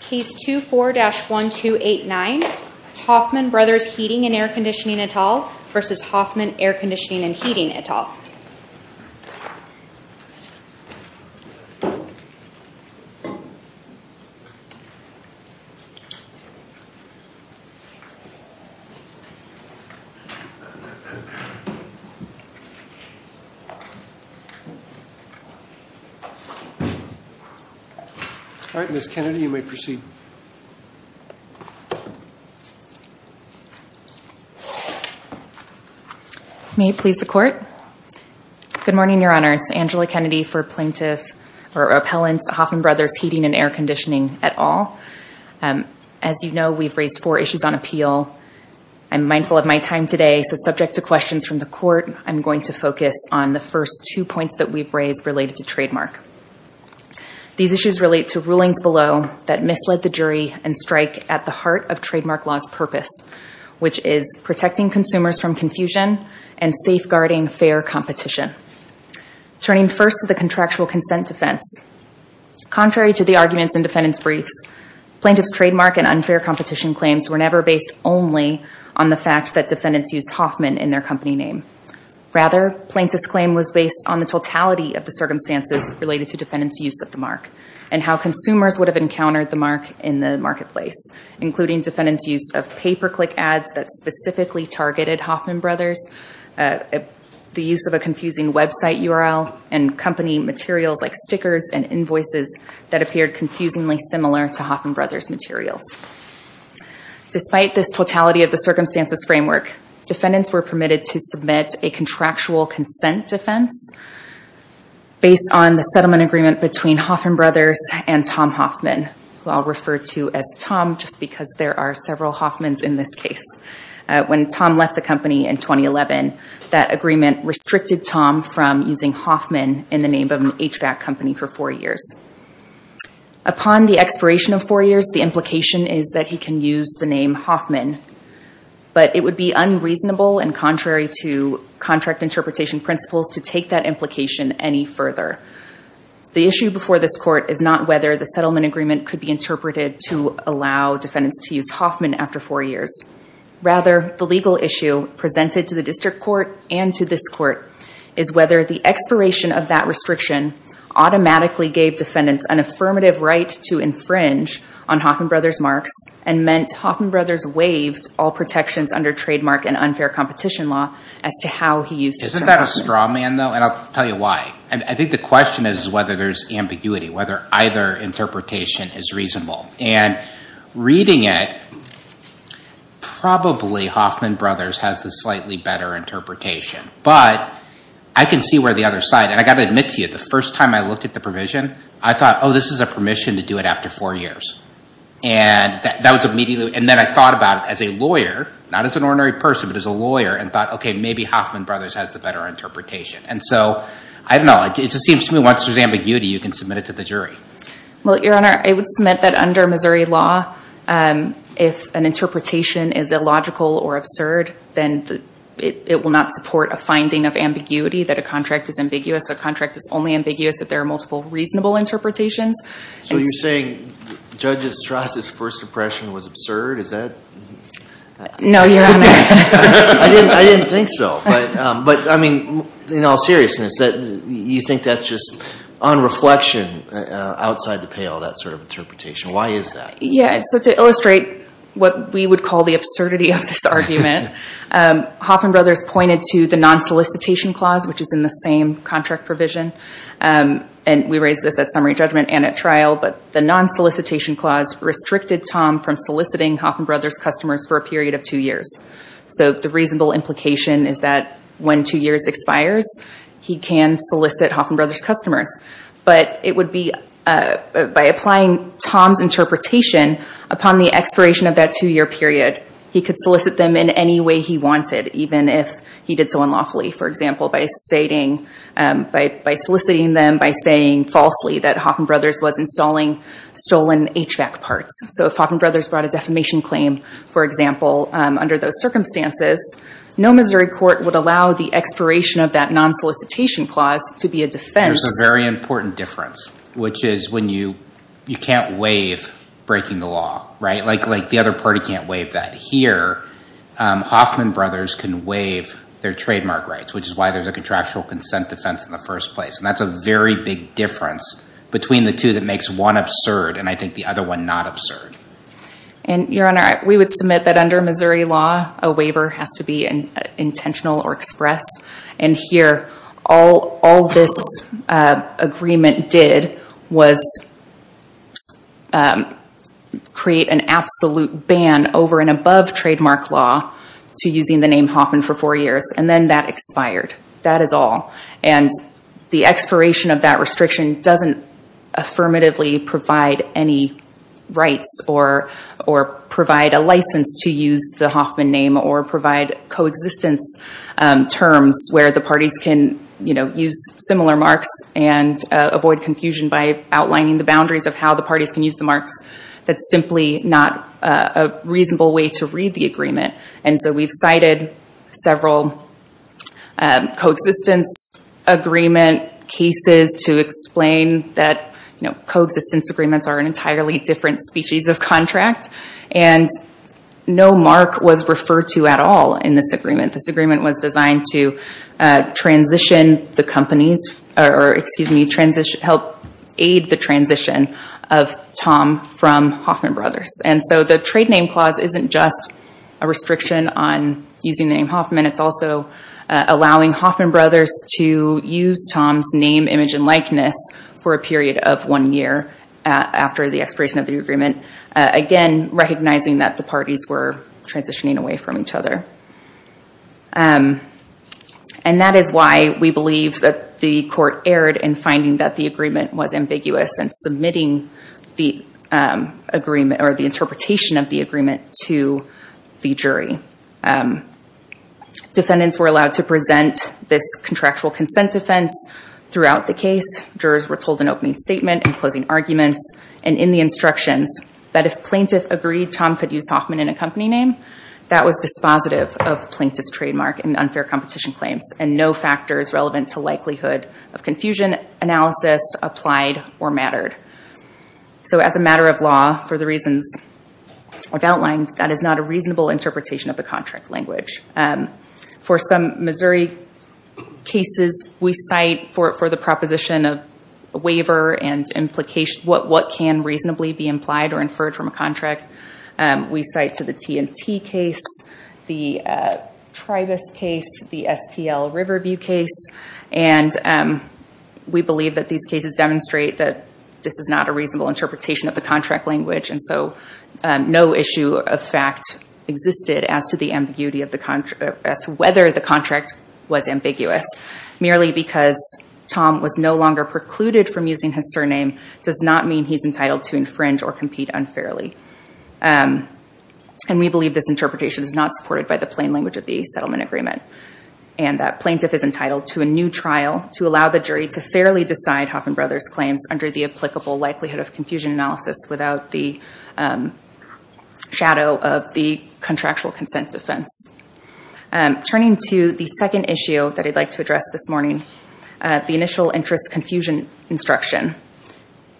Case 24-1289 Hoffmann Bros. Heating & Air v. Hoffmann Air & Heating May it please the Court. Good morning, Your Honors. Angela Kennedy for Plaintiff or Appellant Hoffmann Bros. Heating & Air Conditioning et al. As you know, we've raised four issues on appeal. I'm mindful of my time today, so subject to questions from the Court, I'm going to focus on the first two points that we've raised related to trademark. These issues relate to rulings below that misled the jury and strike at the heart of trademark law's purpose, which is protecting consumers from confusion and safeguarding fair competition. Turning first to the contractual consent defense, contrary to the arguments in defendant's briefs, plaintiff's trademark and unfair competition claims were never based only on the fact that defendants used Hoffmann in their company name. Rather, plaintiff's claim was based on the totality of the circumstances related to defendants' use of the mark, and how consumers would have encountered the mark in the marketplace, including defendants' use of pay-per-click ads that specifically targeted Hoffmann Bros., the use of a confusing website URL, and company materials like stickers and invoices that appeared confusingly similar to Hoffmann Bros. materials. Despite this totality of the circumstances framework, defendants were permitted to submit a contractual consent defense based on the settlement agreement between Hoffmann Bros. and Tom Hoffman, who I'll refer to as Tom just because there are several Hoffmans in this case. When Tom left the company in 2011, that agreement restricted Tom from using Hoffman in the name of an HVAC company for four years. Upon the expiration of four years, the implication is that he can use the name Hoffman, but it would be unreasonable and contrary to contract interpretation principles to take that implication any further. The issue before this court is not whether the settlement agreement could be interpreted to allow defendants to use Hoffman after four years. Rather, the legal issue presented to the district court and to this court is whether the expiration of that restriction automatically gave defendants an affirmative right to infringe on Hoffman Bros. marks and meant Hoffman Bros. waived all protections under trademark and unfair competition law as to how he used the term Hoffman. Isn't that a straw man though? And I'll tell you why. I think the question is whether there's ambiguity, whether either interpretation is reasonable. And reading it, probably Hoffman Bros. has the slightly better interpretation, but I can see where the other side, and I've got to admit to you, the first time I looked at the provision, I thought, oh, this is a permission to do it after four years. And then I thought about it as a lawyer, not as an ordinary person, but as a lawyer, and thought, OK, maybe Hoffman Bros. has the better interpretation. And so, I don't know, it just seems to me once there's ambiguity, you can submit it to the jury. Well, Your Honor, I would submit that under Missouri law, if an interpretation is illogical or absurd, then it will not support a finding of ambiguity that a contract is ambiguous, a contract is only ambiguous if there are multiple reasonable interpretations. So you're saying Judge Estraza's first impression was absurd? Is that? No, Your Honor. I didn't think so. But, I mean, in all seriousness, you think that's just unreflection outside the pale, that sort of interpretation? Why is that? Yeah. So to illustrate what we would call the absurdity of this argument, Hoffman Bros. pointed to the non-solicitation clause, which is in the same contract provision. And we raised this at summary judgment and at trial. But the non-solicitation clause restricted Tom from soliciting Hoffman Bros. customers for a period of two years. So the reasonable implication is that when two years expires, he can solicit Hoffman Bros. customers. But it would be, by applying Tom's interpretation, upon the expiration of that two-year period, he could solicit them in any way he wanted, even if he did so unlawfully. For example, by stating, by soliciting them, by saying falsely that Hoffman Bros. was installing stolen HVAC parts. So if Hoffman Bros. brought a defamation claim, for example, under those circumstances, no Missouri court would allow the expiration of that non-solicitation clause to be a defense. There's a very important difference, which is when you can't waive breaking the law, like the other party can't waive that. Here, Hoffman Bros. can waive their trademark rights, which is why there's a contractual consent defense in the first place. And that's a very big difference between the two that makes one absurd and, I think, the other one not absurd. And, Your Honor, we would submit that under Missouri law, a waiver has to be intentional or express. And here, all this agreement did was create an absolute ban over and above trademark law to using the name Hoffman for four years. And then that expired. That is all. And the expiration of that restriction doesn't affirmatively provide any rights or provide a license to use the Hoffman name or provide coexistence terms where the parties can use similar marks and avoid confusion by outlining the boundaries of how the parties can use the marks. That's simply not a reasonable way to read the agreement. And so we've cited several coexistence agreement cases to explain that coexistence agreements are an entirely different species of contract. And no mark was referred to at all in this agreement. This agreement was designed to help aid the transition of Tom from Hoffman Bros. And so the trade name clause isn't just a restriction on using the name Hoffman. It's also allowing Hoffman Bros. to use Tom's name, image, and likeness for a period of one year after the expiration of the agreement. Again, recognizing that the parties were transitioning away from each other. And that is why we believe that the court erred in finding that the agreement was ambiguous and submitting the agreement or the interpretation of the agreement to the jury. Defendants were allowed to present this contractual consent defense throughout the case. Jurors were told an opening statement and closing arguments and in the instructions that if plaintiff agreed Tom could use Hoffman in a company name, that was dispositive of plaintiff's trademark and unfair competition claims and no factors relevant to likelihood of confusion analysis applied or mattered. So as a matter of law, for the reasons I've outlined, that is not a reasonable interpretation of the contract language. For some Missouri cases, we cite for the proposition of a waiver and what can reasonably be implied or inferred from a contract, we cite to the T&T case, the Tribus case, the STL Riverview case. And we believe that these cases demonstrate that this is not a reasonable interpretation of the contract language. And so no issue of fact existed as to the ambiguity of the contract, as to whether the contract was ambiguous. Merely because Tom was no longer precluded from using his surname does not mean he's entitled to infringe or compete unfairly. And we believe this interpretation is not supported by the plain language of the settlement agreement. And that plaintiff is entitled to a new trial to allow the jury to fairly decide Hoffman Brothers' claims under the applicable likelihood of confusion analysis without the shadow of the contractual consent defense. Turning to the second issue that I'd like to address this morning, the initial interest confusion instruction.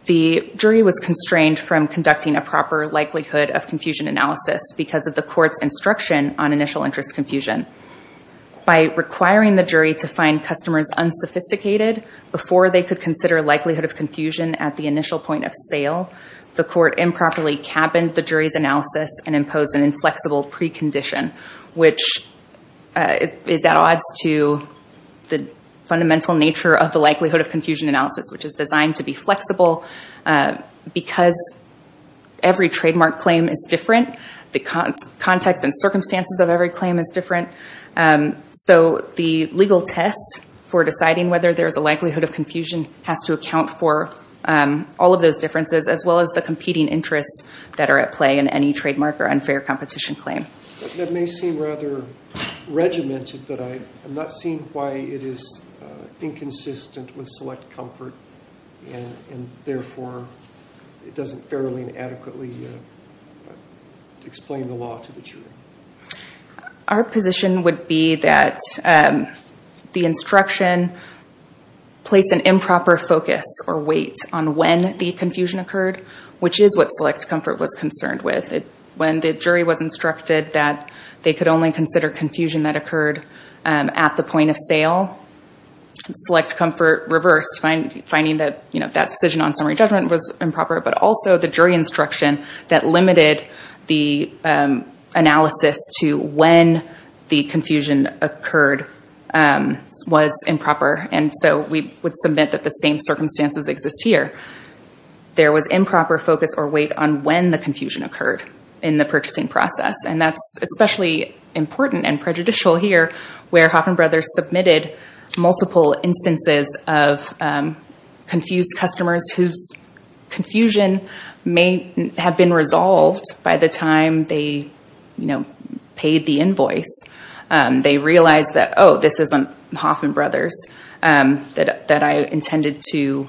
The jury was constrained from conducting a proper likelihood of confusion analysis because of the court's instruction on initial interest confusion. By requiring the jury to find customers unsophisticated before they could consider likelihood of confusion at the initial point of sale, the court improperly cabined the jury's analysis and imposed an inflexible precondition, which is at odds to the fundamental nature of the likelihood of confusion analysis, which is designed to be flexible because every trademark claim is different. The context and circumstances of every claim is different. So the legal test for deciding whether there's a likelihood of confusion has to account for all of those differences as well as the competing interests that are at play in any trademark or unfair competition claim. That may seem rather regimented, but I'm not seeing why it is inconsistent with select comfort, and therefore it doesn't fairly and adequately explain the law to the jury. Our position would be that the instruction placed an improper focus or weight on when the confusion occurred, which is what select comfort was concerned with. When the jury was instructed that they could only consider confusion that occurred at the point of sale, select comfort reversed, finding that that decision on summary judgment was improper, but also the jury instruction that limited the analysis to when the confusion occurred was improper. So we would submit that the same circumstances exist here. There was improper focus or weight on when the confusion occurred in the purchasing process, and that's especially important and prejudicial here where Hoffman Brothers submitted multiple instances of confused customers whose confusion may have been resolved by the time they paid the invoice. They realized that, oh, this isn't Hoffman Brothers, that I intended to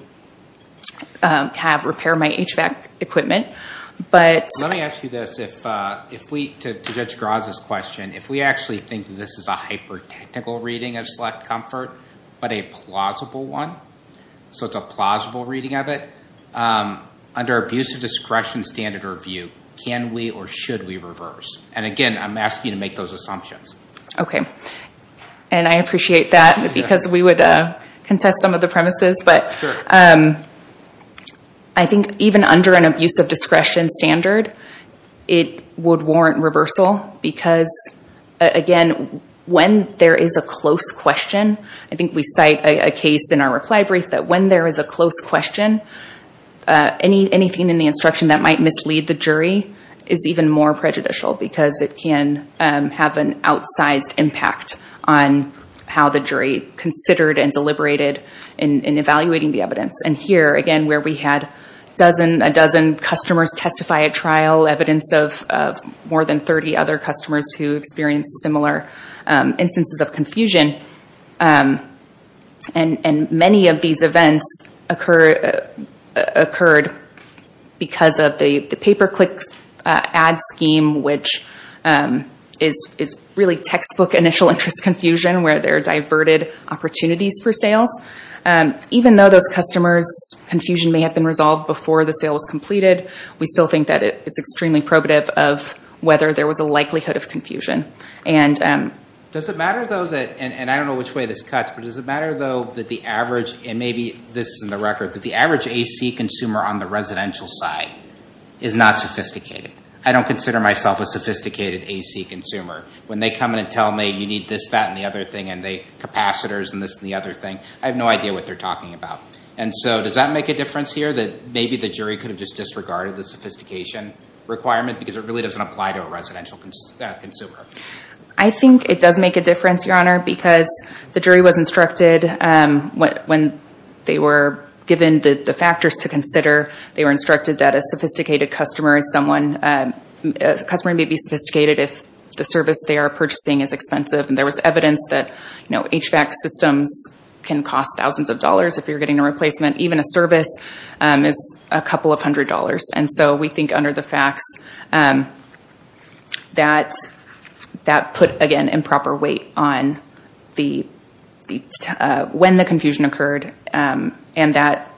repair my HVAC equipment. Let me ask you this. To Judge Graza's question, if we actually think that this is a hyper-technical reading of select comfort, but a plausible one, so it's a plausible reading of it, under abuse of discretion standard or view, can we or should we reverse? And again, I'm asking you to make those assumptions. Okay. And I appreciate that because we would contest some of the premises, but I think even under an abuse of discretion standard, it would warrant reversal because, again, when there is a close question, I think we cite a case in our reply brief that when there is a close question, anything in the instruction that might mislead the jury is even more prejudicial because it can have an outsized impact on how the jury considered and deliberated in evaluating the evidence. And here, again, where we had a dozen customers testify at trial, evidence of more than 30 other customers who experienced similar instances of confusion, and many of these events occurred because of the pay-per-click ad scheme, which is really textbook initial interest confusion where there are diverted opportunities for sales. Even though those customers' confusion may have been resolved before the sale was completed, we still think that it's extremely probative of whether there was a likelihood of confusion. Does it matter, though, and I don't know which way this cuts, but does it matter, though, that the average, and maybe this is in the record, that the average AC consumer on the residential side is not sophisticated? I don't consider myself a sophisticated AC consumer. When they come in and tell me you need this, that, and the other thing, and the capacitors and this and the other thing, I have no idea what they're talking about. And so does that make a difference here, that maybe the jury could have just disregarded the sophistication requirement because it really doesn't apply to a residential consumer? I think it does make a difference, Your Honor, because the jury was instructed when they were given the factors to consider, they were instructed that a sophisticated customer is someone, a customer may be sophisticated if the service they are purchasing is expensive. And there was evidence that HVAC systems can cost thousands of dollars if you're getting a replacement. Even a service is a couple of hundred dollars. And so we think under the facts that that put, again, improper weight on when the confusion occurred and that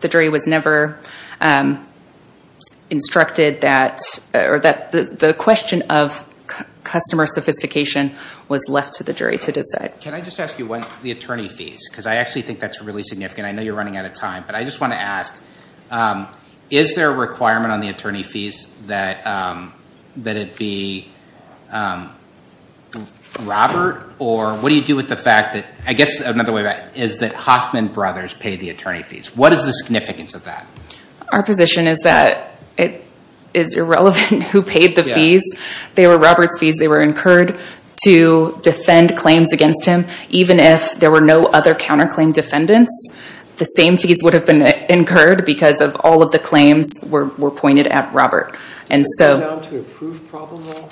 the jury was never instructed that, or that the question of customer sophistication was left to the jury to decide. Can I just ask you what the attorney fees, because I actually think that's really significant. I know you're running out of time, but I just want to ask, is there a requirement on the attorney fees that it be Robert or what do you do with the fact that, I guess another way is that Hoffman Brothers paid the attorney fees. What is the significance of that? Our position is that it is irrelevant who paid the fees. They were Robert's fees. They were incurred to defend claims against him. Even if there were no other counterclaim defendants, the same fees would have been incurred because of all of the claims were pointed at Robert. And so... Does it come down to a proof problem, though?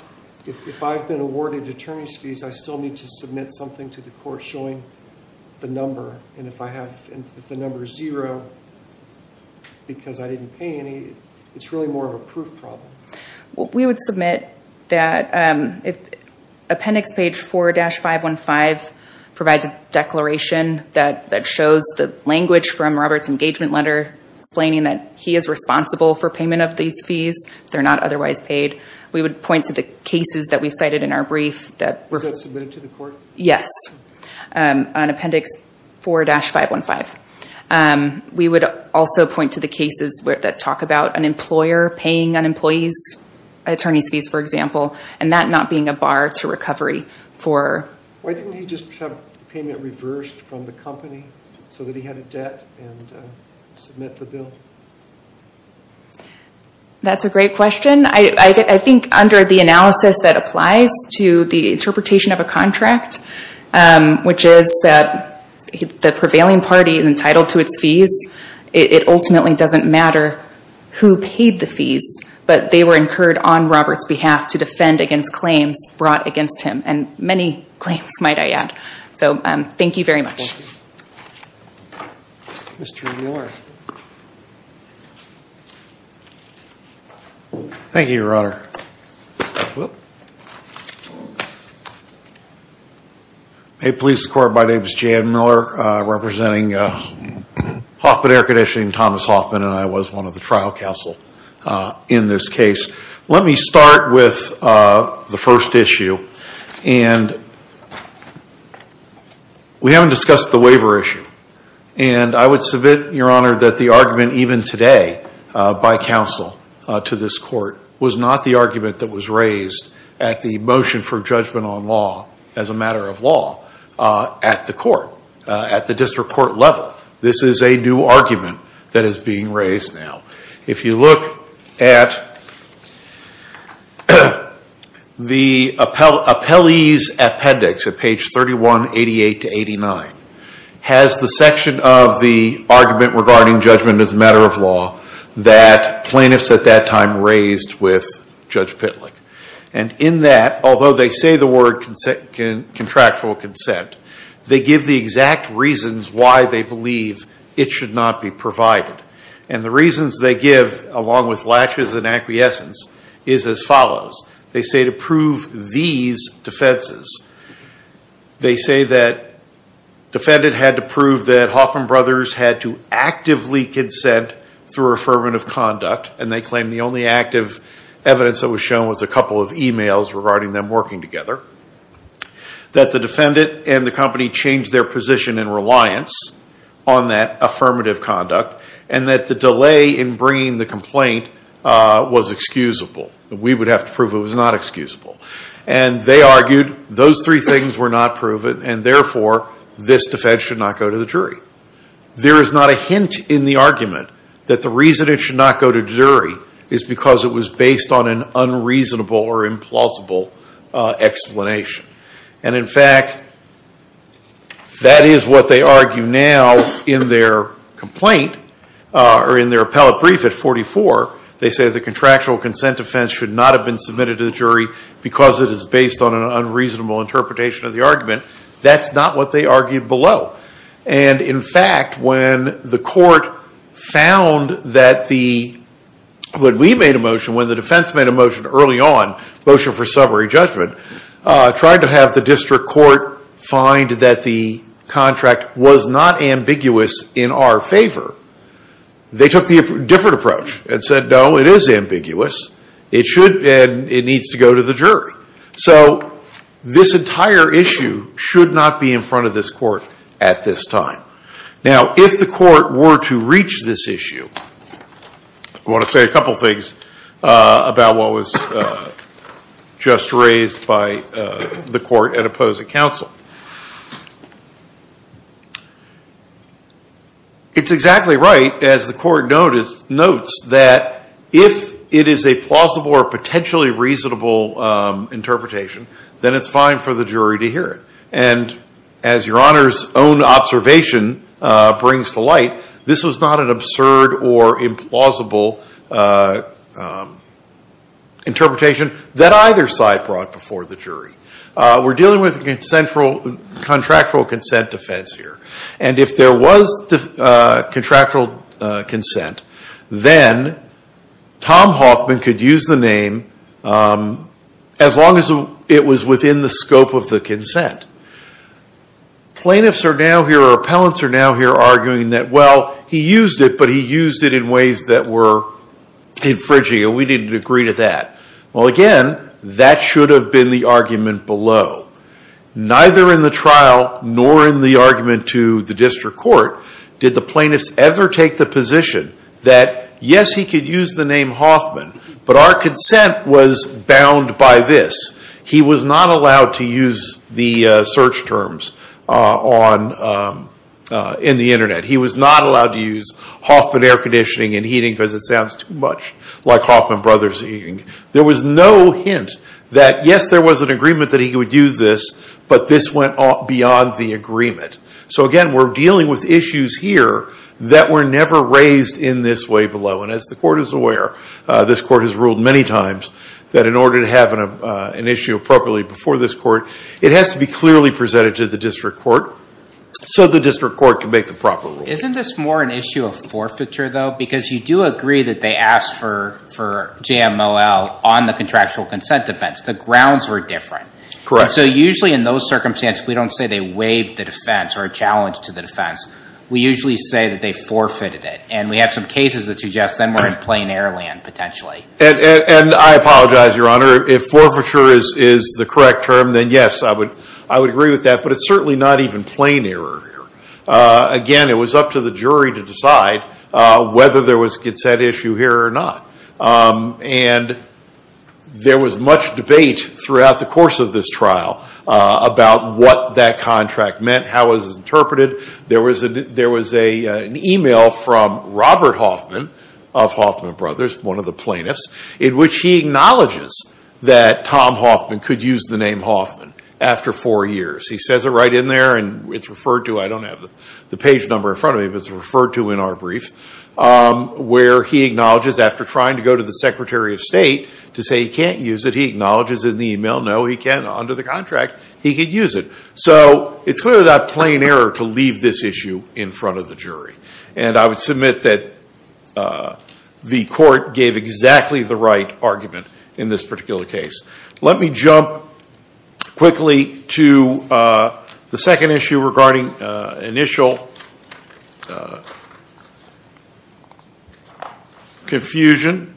If I've been awarded attorney's fees, I still need to submit something to the court showing the number. And if I have, if the number's zero because I didn't pay any, it's really more of a proof problem. We would submit that... Appendix page 4-515 provides a declaration that shows the language from Robert's engagement letter explaining that he is responsible for payment of these fees if they're not otherwise paid. We would point to the cases that we've cited in our brief that... Was that submitted to the court? Yes. On appendix 4-515. We would also point to the cases that talk about an employer paying an employee's attorney's fees, for example, and that not being a bar to recovery for... Why didn't he just have the payment reversed from the company so that he had a debt and submit the bill? That's a great question. I think under the analysis that applies to the interpretation of a contract, which is that the prevailing party is entitled to its fees, it ultimately doesn't matter who paid the fees, but they were incurred on Robert's behalf to defend against claims brought against him. And many claims, might I add. So, thank you very much. Mr. Miller. Thank you, Your Honor. May it please the Court, my name is Jay Miller, representing Hoffman Air Conditioning, Thomas Hoffman, and I was one of the trial counsel in this case. Let me start with the first issue. And we haven't discussed the waiver issue. And I would submit, Your Honor, that the argument even today, by counsel to this Court, was not the argument that was raised at the motion for judgment on law, as a matter of law, at the court, at the district court level. This is a new argument that is being raised now. If you look at the appellee's appendix at page 3188-89, has the section of the argument regarding judgment as a matter of law, that plaintiffs at that time raised with Judge Pitlick. And in that, although they say the word contractual consent, they give the exact reasons why they believe it should not be provided. And the reasons they give, along with latches and acquiescence, is as follows. They say to prove these defenses. They say that defendant had to prove that Hoffman Brothers had to actively consent through affirmative conduct. And they claim the only active evidence that was shown was a couple of emails regarding them working together. That the defendant and the company changed their position in reliance on that affirmative conduct. And that the delay in bringing the complaint was excusable. We would have to prove it was not excusable. And they argued those three things were not proven. And therefore, this defense should not go to the jury. There is not a hint in the argument that the reason it should not go to jury is because it was based on an unreasonable or implausible explanation. And in fact, that is what they argue now in their complaint, or in their appellate brief at 44. They say the contractual consent defense should not have been submitted to the jury because it is based on an unreasonable interpretation of the argument. That's not what they argued below. And in fact, when the court found that the, when we made a motion, when the defense made a motion early on, motion for summary judgment, tried to have the district court find that the contract was not ambiguous in our favor, they took the different approach and said, no, it is ambiguous. It should, and it needs to go to the jury. So this entire issue should not be in front of this court at this time. Now, if the court were to reach this issue, I want to say a couple things about what was just raised by the court at opposing counsel. It's exactly right, as the court notes, that if it is a plausible or potentially reasonable interpretation, then it's fine for the jury to hear it. And as Your Honor's own observation brings to light, this was not an absurd or implausible interpretation that either side brought before the jury. We're dealing with contractual consent defense here. And if there was contractual consent, then Tom Hoffman could use the name as long as it was within the scope of the consent. Plaintiffs are now here, or appellants are now here, arguing that, well, he used it, but he used it in ways that were infringing, and we didn't agree to that. Well, again, that should have been the argument below. Neither in the trial nor in the argument to the district court did the plaintiffs ever take the position that, yes, he could use the name Hoffman, but our consent was bound by this. He was not allowed to use the search terms in the internet. He was not allowed to use Hoffman Air Conditioning and Heating because it sounds too much like Hoffman Brothers Heating. There was no hint that, yes, there was an agreement that he would use this, but this went beyond the agreement. So again, we're dealing with issues here that were never raised in this way below. And as the court is aware, this court has ruled many times that in order to have an issue appropriately before this court, it has to be clearly presented to the district court so the district court can make the proper rule. Isn't this more an issue of forfeiture, though? Because you do agree that they asked for JMOL on the contractual consent defense. The grounds were different. Correct. And so usually in those circumstances, we don't say they waived the defense or challenged to the defense. We usually say that they forfeited it. And we have some cases that suggest them were in plain air land, potentially. And I apologize, Your Honor. If forfeiture is the correct term, then yes, I would agree with that. But it's certainly not even plain air or air. Again, it was up to the jury to decide whether there was a consent issue here or not. And there was much debate throughout the course of this trial about what that contract meant, how it was interpreted. There was an email from Robert Hoffman of Hoffman Brothers, one of the plaintiffs, in which he acknowledges that Tom Hoffman could use the name Hoffman after four years. He says it right in there, and it's referred to. I don't have the page number in front of me, but it's referred to in our brief, where he acknowledges after trying to go to the Secretary of State to say he can't use it, he acknowledges in the email, no, he can. Under the contract, he could use it. So it's clearly not plain air to leave this issue in front of the jury. And I would submit that the court gave exactly the right argument in this particular case. Let me jump quickly to the second issue regarding initial confusion.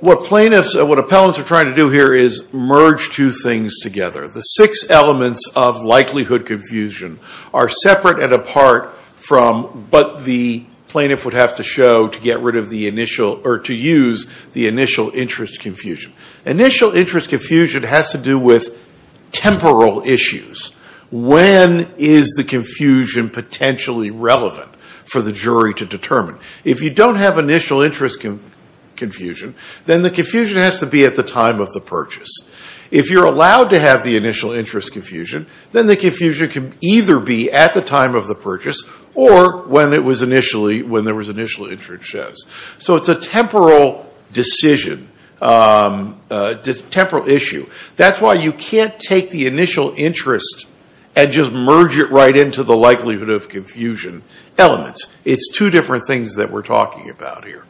What plaintiffs and what appellants are trying to do here is merge two things together. The six elements of likelihood confusion are separate and apart from what the plaintiff would have to show to get rid of the initial, or to use the initial interest confusion. Initial interest confusion has to do with temporal issues. When is the confusion potentially relevant for the jury to determine? If you don't have initial interest confusion, then the confusion has to be at the time of the purchase. If you're allowed to have the initial interest confusion, then the confusion can either be at the time of the purchase or when there was initial interest shows. So it's a temporal decision, temporal issue. That's why you can't take the initial interest and just merge it right into the likelihood of confusion elements. It's two different things that we're talking about here.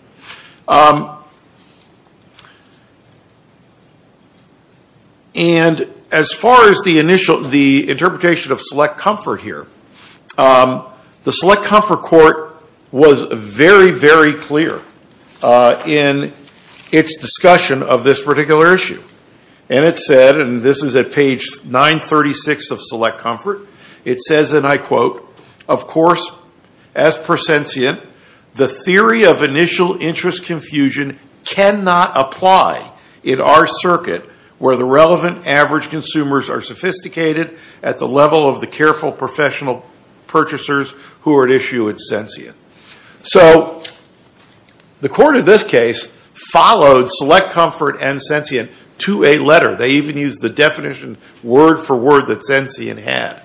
And as far as the interpretation of select comfort here, the select comfort court was very, very clear in its discussion of this particular issue. And it said, and this is at page 936 of select comfort, it says, and I quote, of course, as per sentient, the theory of initial interest confusion cannot apply in our circuit where the relevant average consumers are sophisticated at the level of the careful professional purchasers who are at issue with sentient. So the court of this case followed select comfort and sentient to a letter. They even used the definition word for word that sentient had.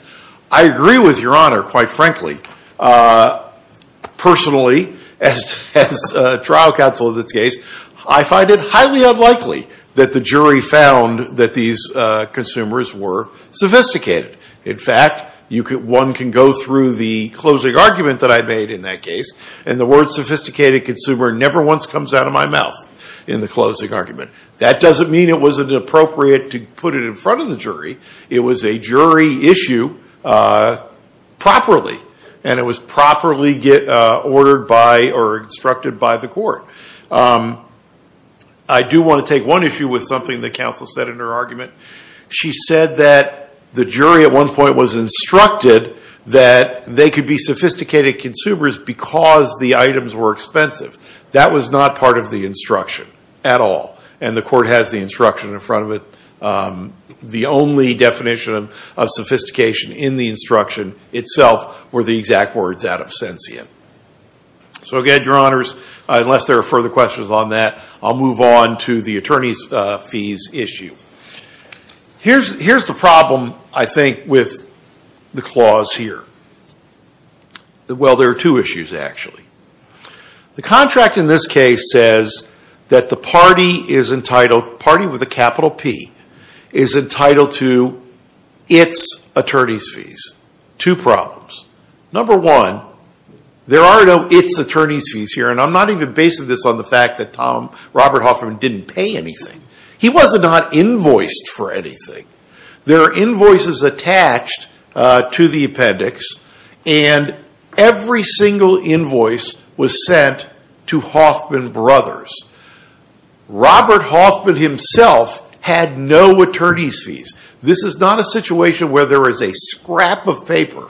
I agree with your honor, quite frankly, personally, as trial counsel of this case, I find it highly unlikely that the jury found that these consumers were sophisticated. In fact, one can go through the closing argument that I made in that case, and the word sophisticated consumer never once comes out of my mouth in the closing argument. That doesn't mean it wasn't appropriate to put it in front of the jury. It was a jury issue properly, and it was properly ordered by or instructed by the court. I do want to take one issue with something that counsel said in her argument. She said that the jury at one point was instructed that they could be sophisticated consumers because the items were expensive. That was not part of the instruction at all, and the court has the instruction in front of it. The only definition of sophistication in the instruction itself were the exact words out of sentient. So again, your honors, unless there are further questions on that, I'll move on to the attorney's fees issue. Here's the problem, I think, with the clause here. Well, there are two issues actually. The contract in this case says that the party is entitled, party with a capital P, is entitled to its attorney's fees. Two problems. Number one, there are no its attorney's fees here, and I'm not even basing this on the fact that Robert Hoffman didn't pay anything. He was not invoiced for anything. There are invoices attached to the appendix, and every single invoice was sent to Hoffman Brothers. Robert Hoffman himself had no attorney's fees. This is not a situation where there is a scrap of paper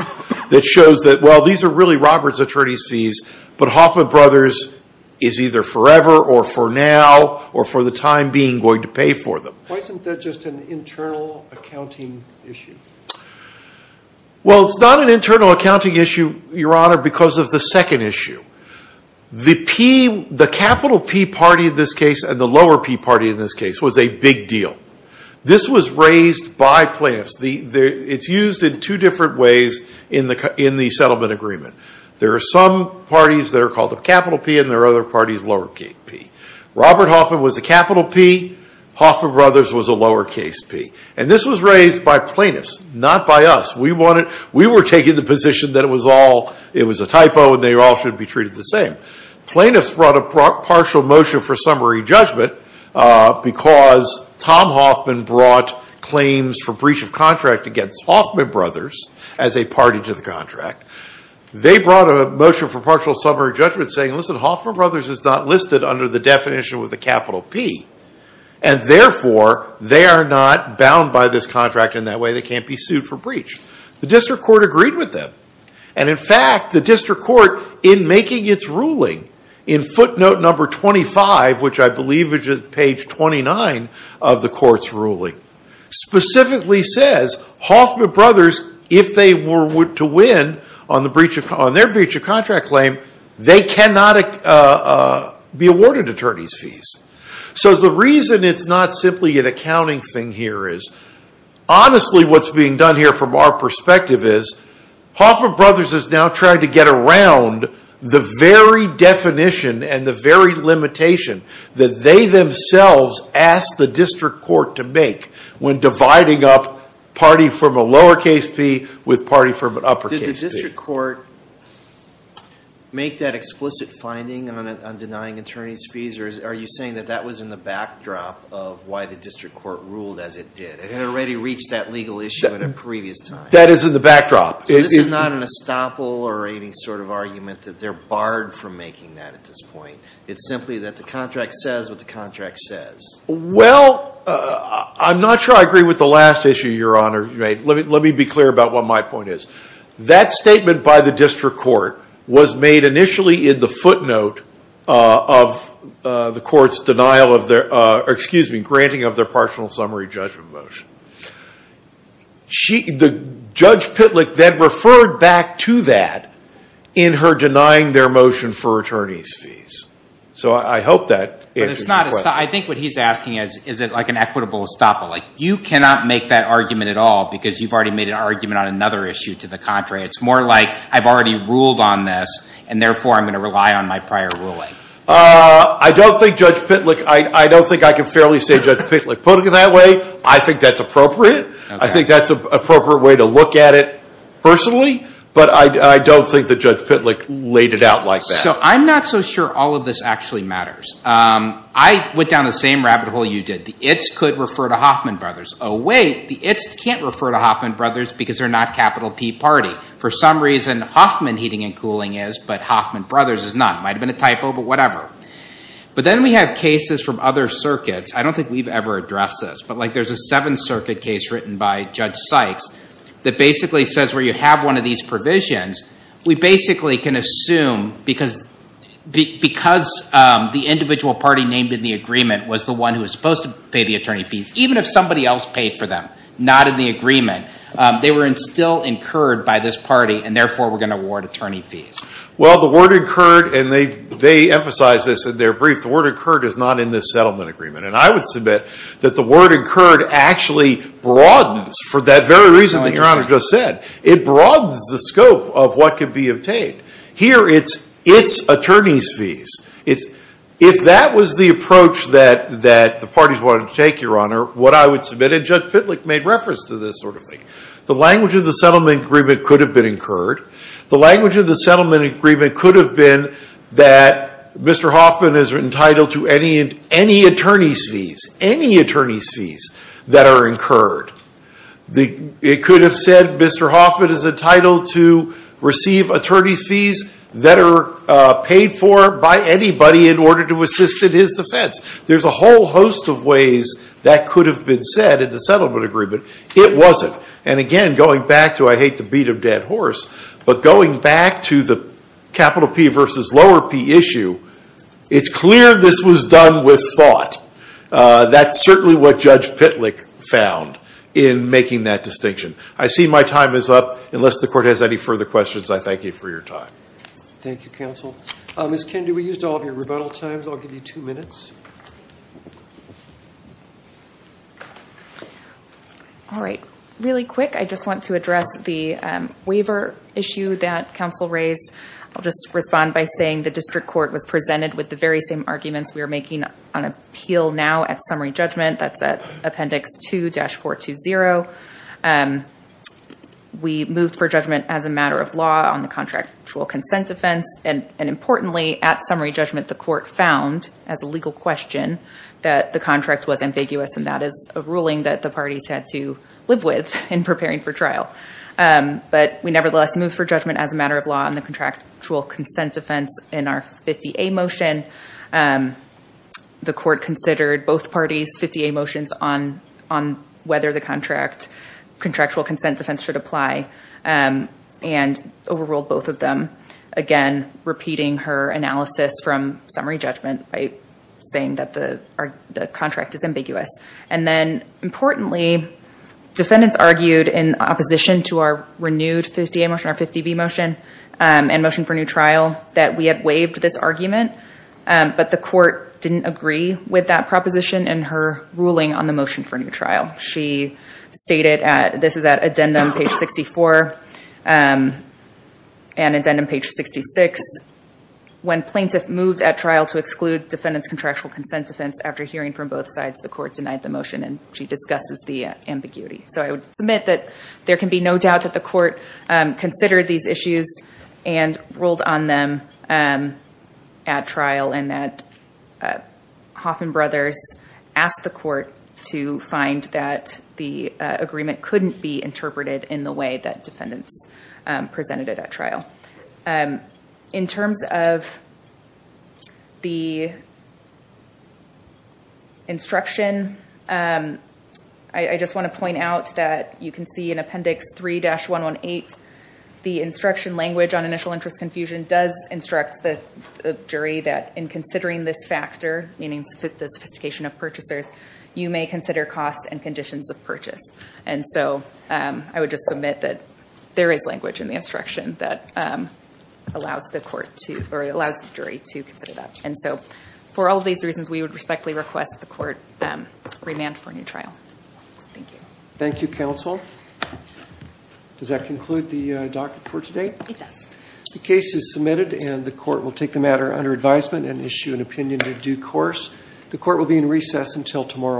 that shows that, well, these are really Robert's attorney's fees, but Hoffman Brothers is either forever or for now or for the time being going to pay for them. Why isn't that just an internal accounting issue? Well, it's not an internal accounting issue, Your Honor, because of the second issue. The capital P party in this case and the lower P party in this case was a big deal. This was raised by plaintiffs. It's used in two different ways in the settlement agreement. There are some parties that are called a capital P and there are other parties lower case P. Robert Hoffman was a capital P, Hoffman Brothers was a lower case P, and this was raised by plaintiffs, not by us. We were taking the position that it was a typo and they all should be treated the same. Plaintiffs brought a partial motion for summary judgment because Tom Hoffman brought claims for breach of contract against Hoffman Brothers as a party to the contract. They brought a motion for partial summary judgment saying, listen, Hoffman Brothers is not listed under the definition with a capital P, and therefore they are not bound by this contract in that way. They can't be sued for breach. The district court agreed with them, and in fact the district court in making its ruling in footnote number 25, which I believe is page 29 of the court's ruling, specifically says Hoffman Brothers, if they were to win on their breach of contract claim, they cannot be awarded attorney's fees. So the reason it's not simply an accounting thing here is, honestly what's being done here from our perspective is, Hoffman Brothers is now trying to get around the very definition and the very limitation that they themselves asked the district court to make when dividing up party from a lower case P with party from an upper case P. Well, I'm not sure I agree with the last issue, Your Honor. Let me be clear about what my point is. That statement by the district court was made initially in the footnote of the court's granting of their partial summary judgment motion. The Judge Pitlick then referred back to that in her denying their motion for attorney's fees. So I hope that answers your I think what he's asking is, is it like an equitable estoppel? You cannot make that argument at all because you've already made an argument on another issue to the contrary. It's more like I've already ruled on this and therefore I'm going to rely on my prior ruling. I don't think Judge Pitlick, I don't think I can fairly say Judge Pitlick put it that way. I think that's appropriate. I think that's an appropriate way to look at it personally, but I don't think that Judge Pitlick laid it out like that. So I'm not so sure all of this actually matters. I went down the same rabbit hole you did. The it's could refer to Hoffman Brothers. Oh wait, the it's can't refer to Hoffman Brothers because they're not capital P party. For some reason Hoffman Heating and Cooling is, but Hoffman Brothers is not. Might have been a typo, but whatever. But then we have cases from other circuits. I don't think we've ever addressed this, but like there's a Seventh Circuit case written by Judge Sykes that basically says where you have one of these provisions, we basically can assume because the individual party named in the agreement was the one who was supposed to pay the attorney fees, even if somebody else paid for them, not in the agreement, they were in still incurred by this party and therefore we're going to award attorney fees. Well the word incurred, and they, they emphasize this in their brief, the word incurred is not in this settlement agreement. And I would submit that the word incurred actually broadens for that very reason that your honor just said. It broadens the scope of what could be obtained. Here it's, it's attorney's fees. It's, if that was the approach that, that the parties wanted to take, your honor, what I would submit, and Judge Pitlick made reference to this sort of thing, the language of the settlement agreement could have been incurred. The language of the settlement agreement could have been that Mr. Hoffman is entitled to any, any attorney's fees, any attorney's fees that are incurred. The, it could have said Mr. Hoffman is entitled to receive attorney's fees that are paid for by anybody in order to assist in his defense. There's a whole host of ways that could have been said in the settlement agreement. It wasn't. And again, going back to I hate to beat a dead horse, but going back to the capital P versus lower P issue, it's clear this was done with thought. That's certainly what Judge Pitlick found in making that distinction. I see my time is up. Unless the court has any further questions, I thank you for your time. Thank you, counsel. Ms. Kinn, do we use all of your rebuttal times? I'll give you two minutes. All right. Really quick, I just want to address the waiver issue that counsel raised. I'll just respond by saying the district court was presented with the very same arguments we are making on appeal now at summary judgment. That's at appendix 2-420. We moved for judgment as a matter of law on the contractual consent defense. And importantly, at summary judgment, the court found as a legal question that the contract was ambiguous, and that is a ruling that the parties had to live with in preparing for trial. But we nevertheless moved for judgment as a matter of law on the contractual consent defense in our 50A motion. The court considered both parties' 50A motions on whether the contractual consent defense should apply, and overruled both of them, again, repeating her analysis from summary judgment by saying that the contract is ambiguous. And then, importantly, defendants argued in opposition to our renewed 50A motion, our 50B motion, and motion for new trial, that we had waived this argument. But the court didn't agree with that proposition in her ruling on the motion for new trial. She stated at, this is at addendum page 64, and addendum page 66, when plaintiff moved at trial to exclude defendants' contractual consent defense after hearing from both sides, the court denied the motion, and she discusses the ambiguity. So I would submit that there can be no doubt that the court considered these issues and ruled on them at trial, and that Hoffman Brothers asked the court to find that the agreement couldn't be interpreted in the way that defendants presented it at trial. In terms of the instruction, I just want to point out that you can see in appendix 3-118, the instruction language on initial interest confusion does instruct the jury that in considering this factor, meaning the sophistication of purchasers, you may consider costs and conditions of purchase. And so I would just submit that there is language in the instruction that allows the jury to consider that. And so for all of these reasons, we would respectfully request the court remand for a new trial. Thank you. Thank you, counsel. Does that conclude the docket for today? It does. The case is submitted, and the court will take the matter under advisement and issue an opinion in due course. The court will be in recess until tomorrow morning.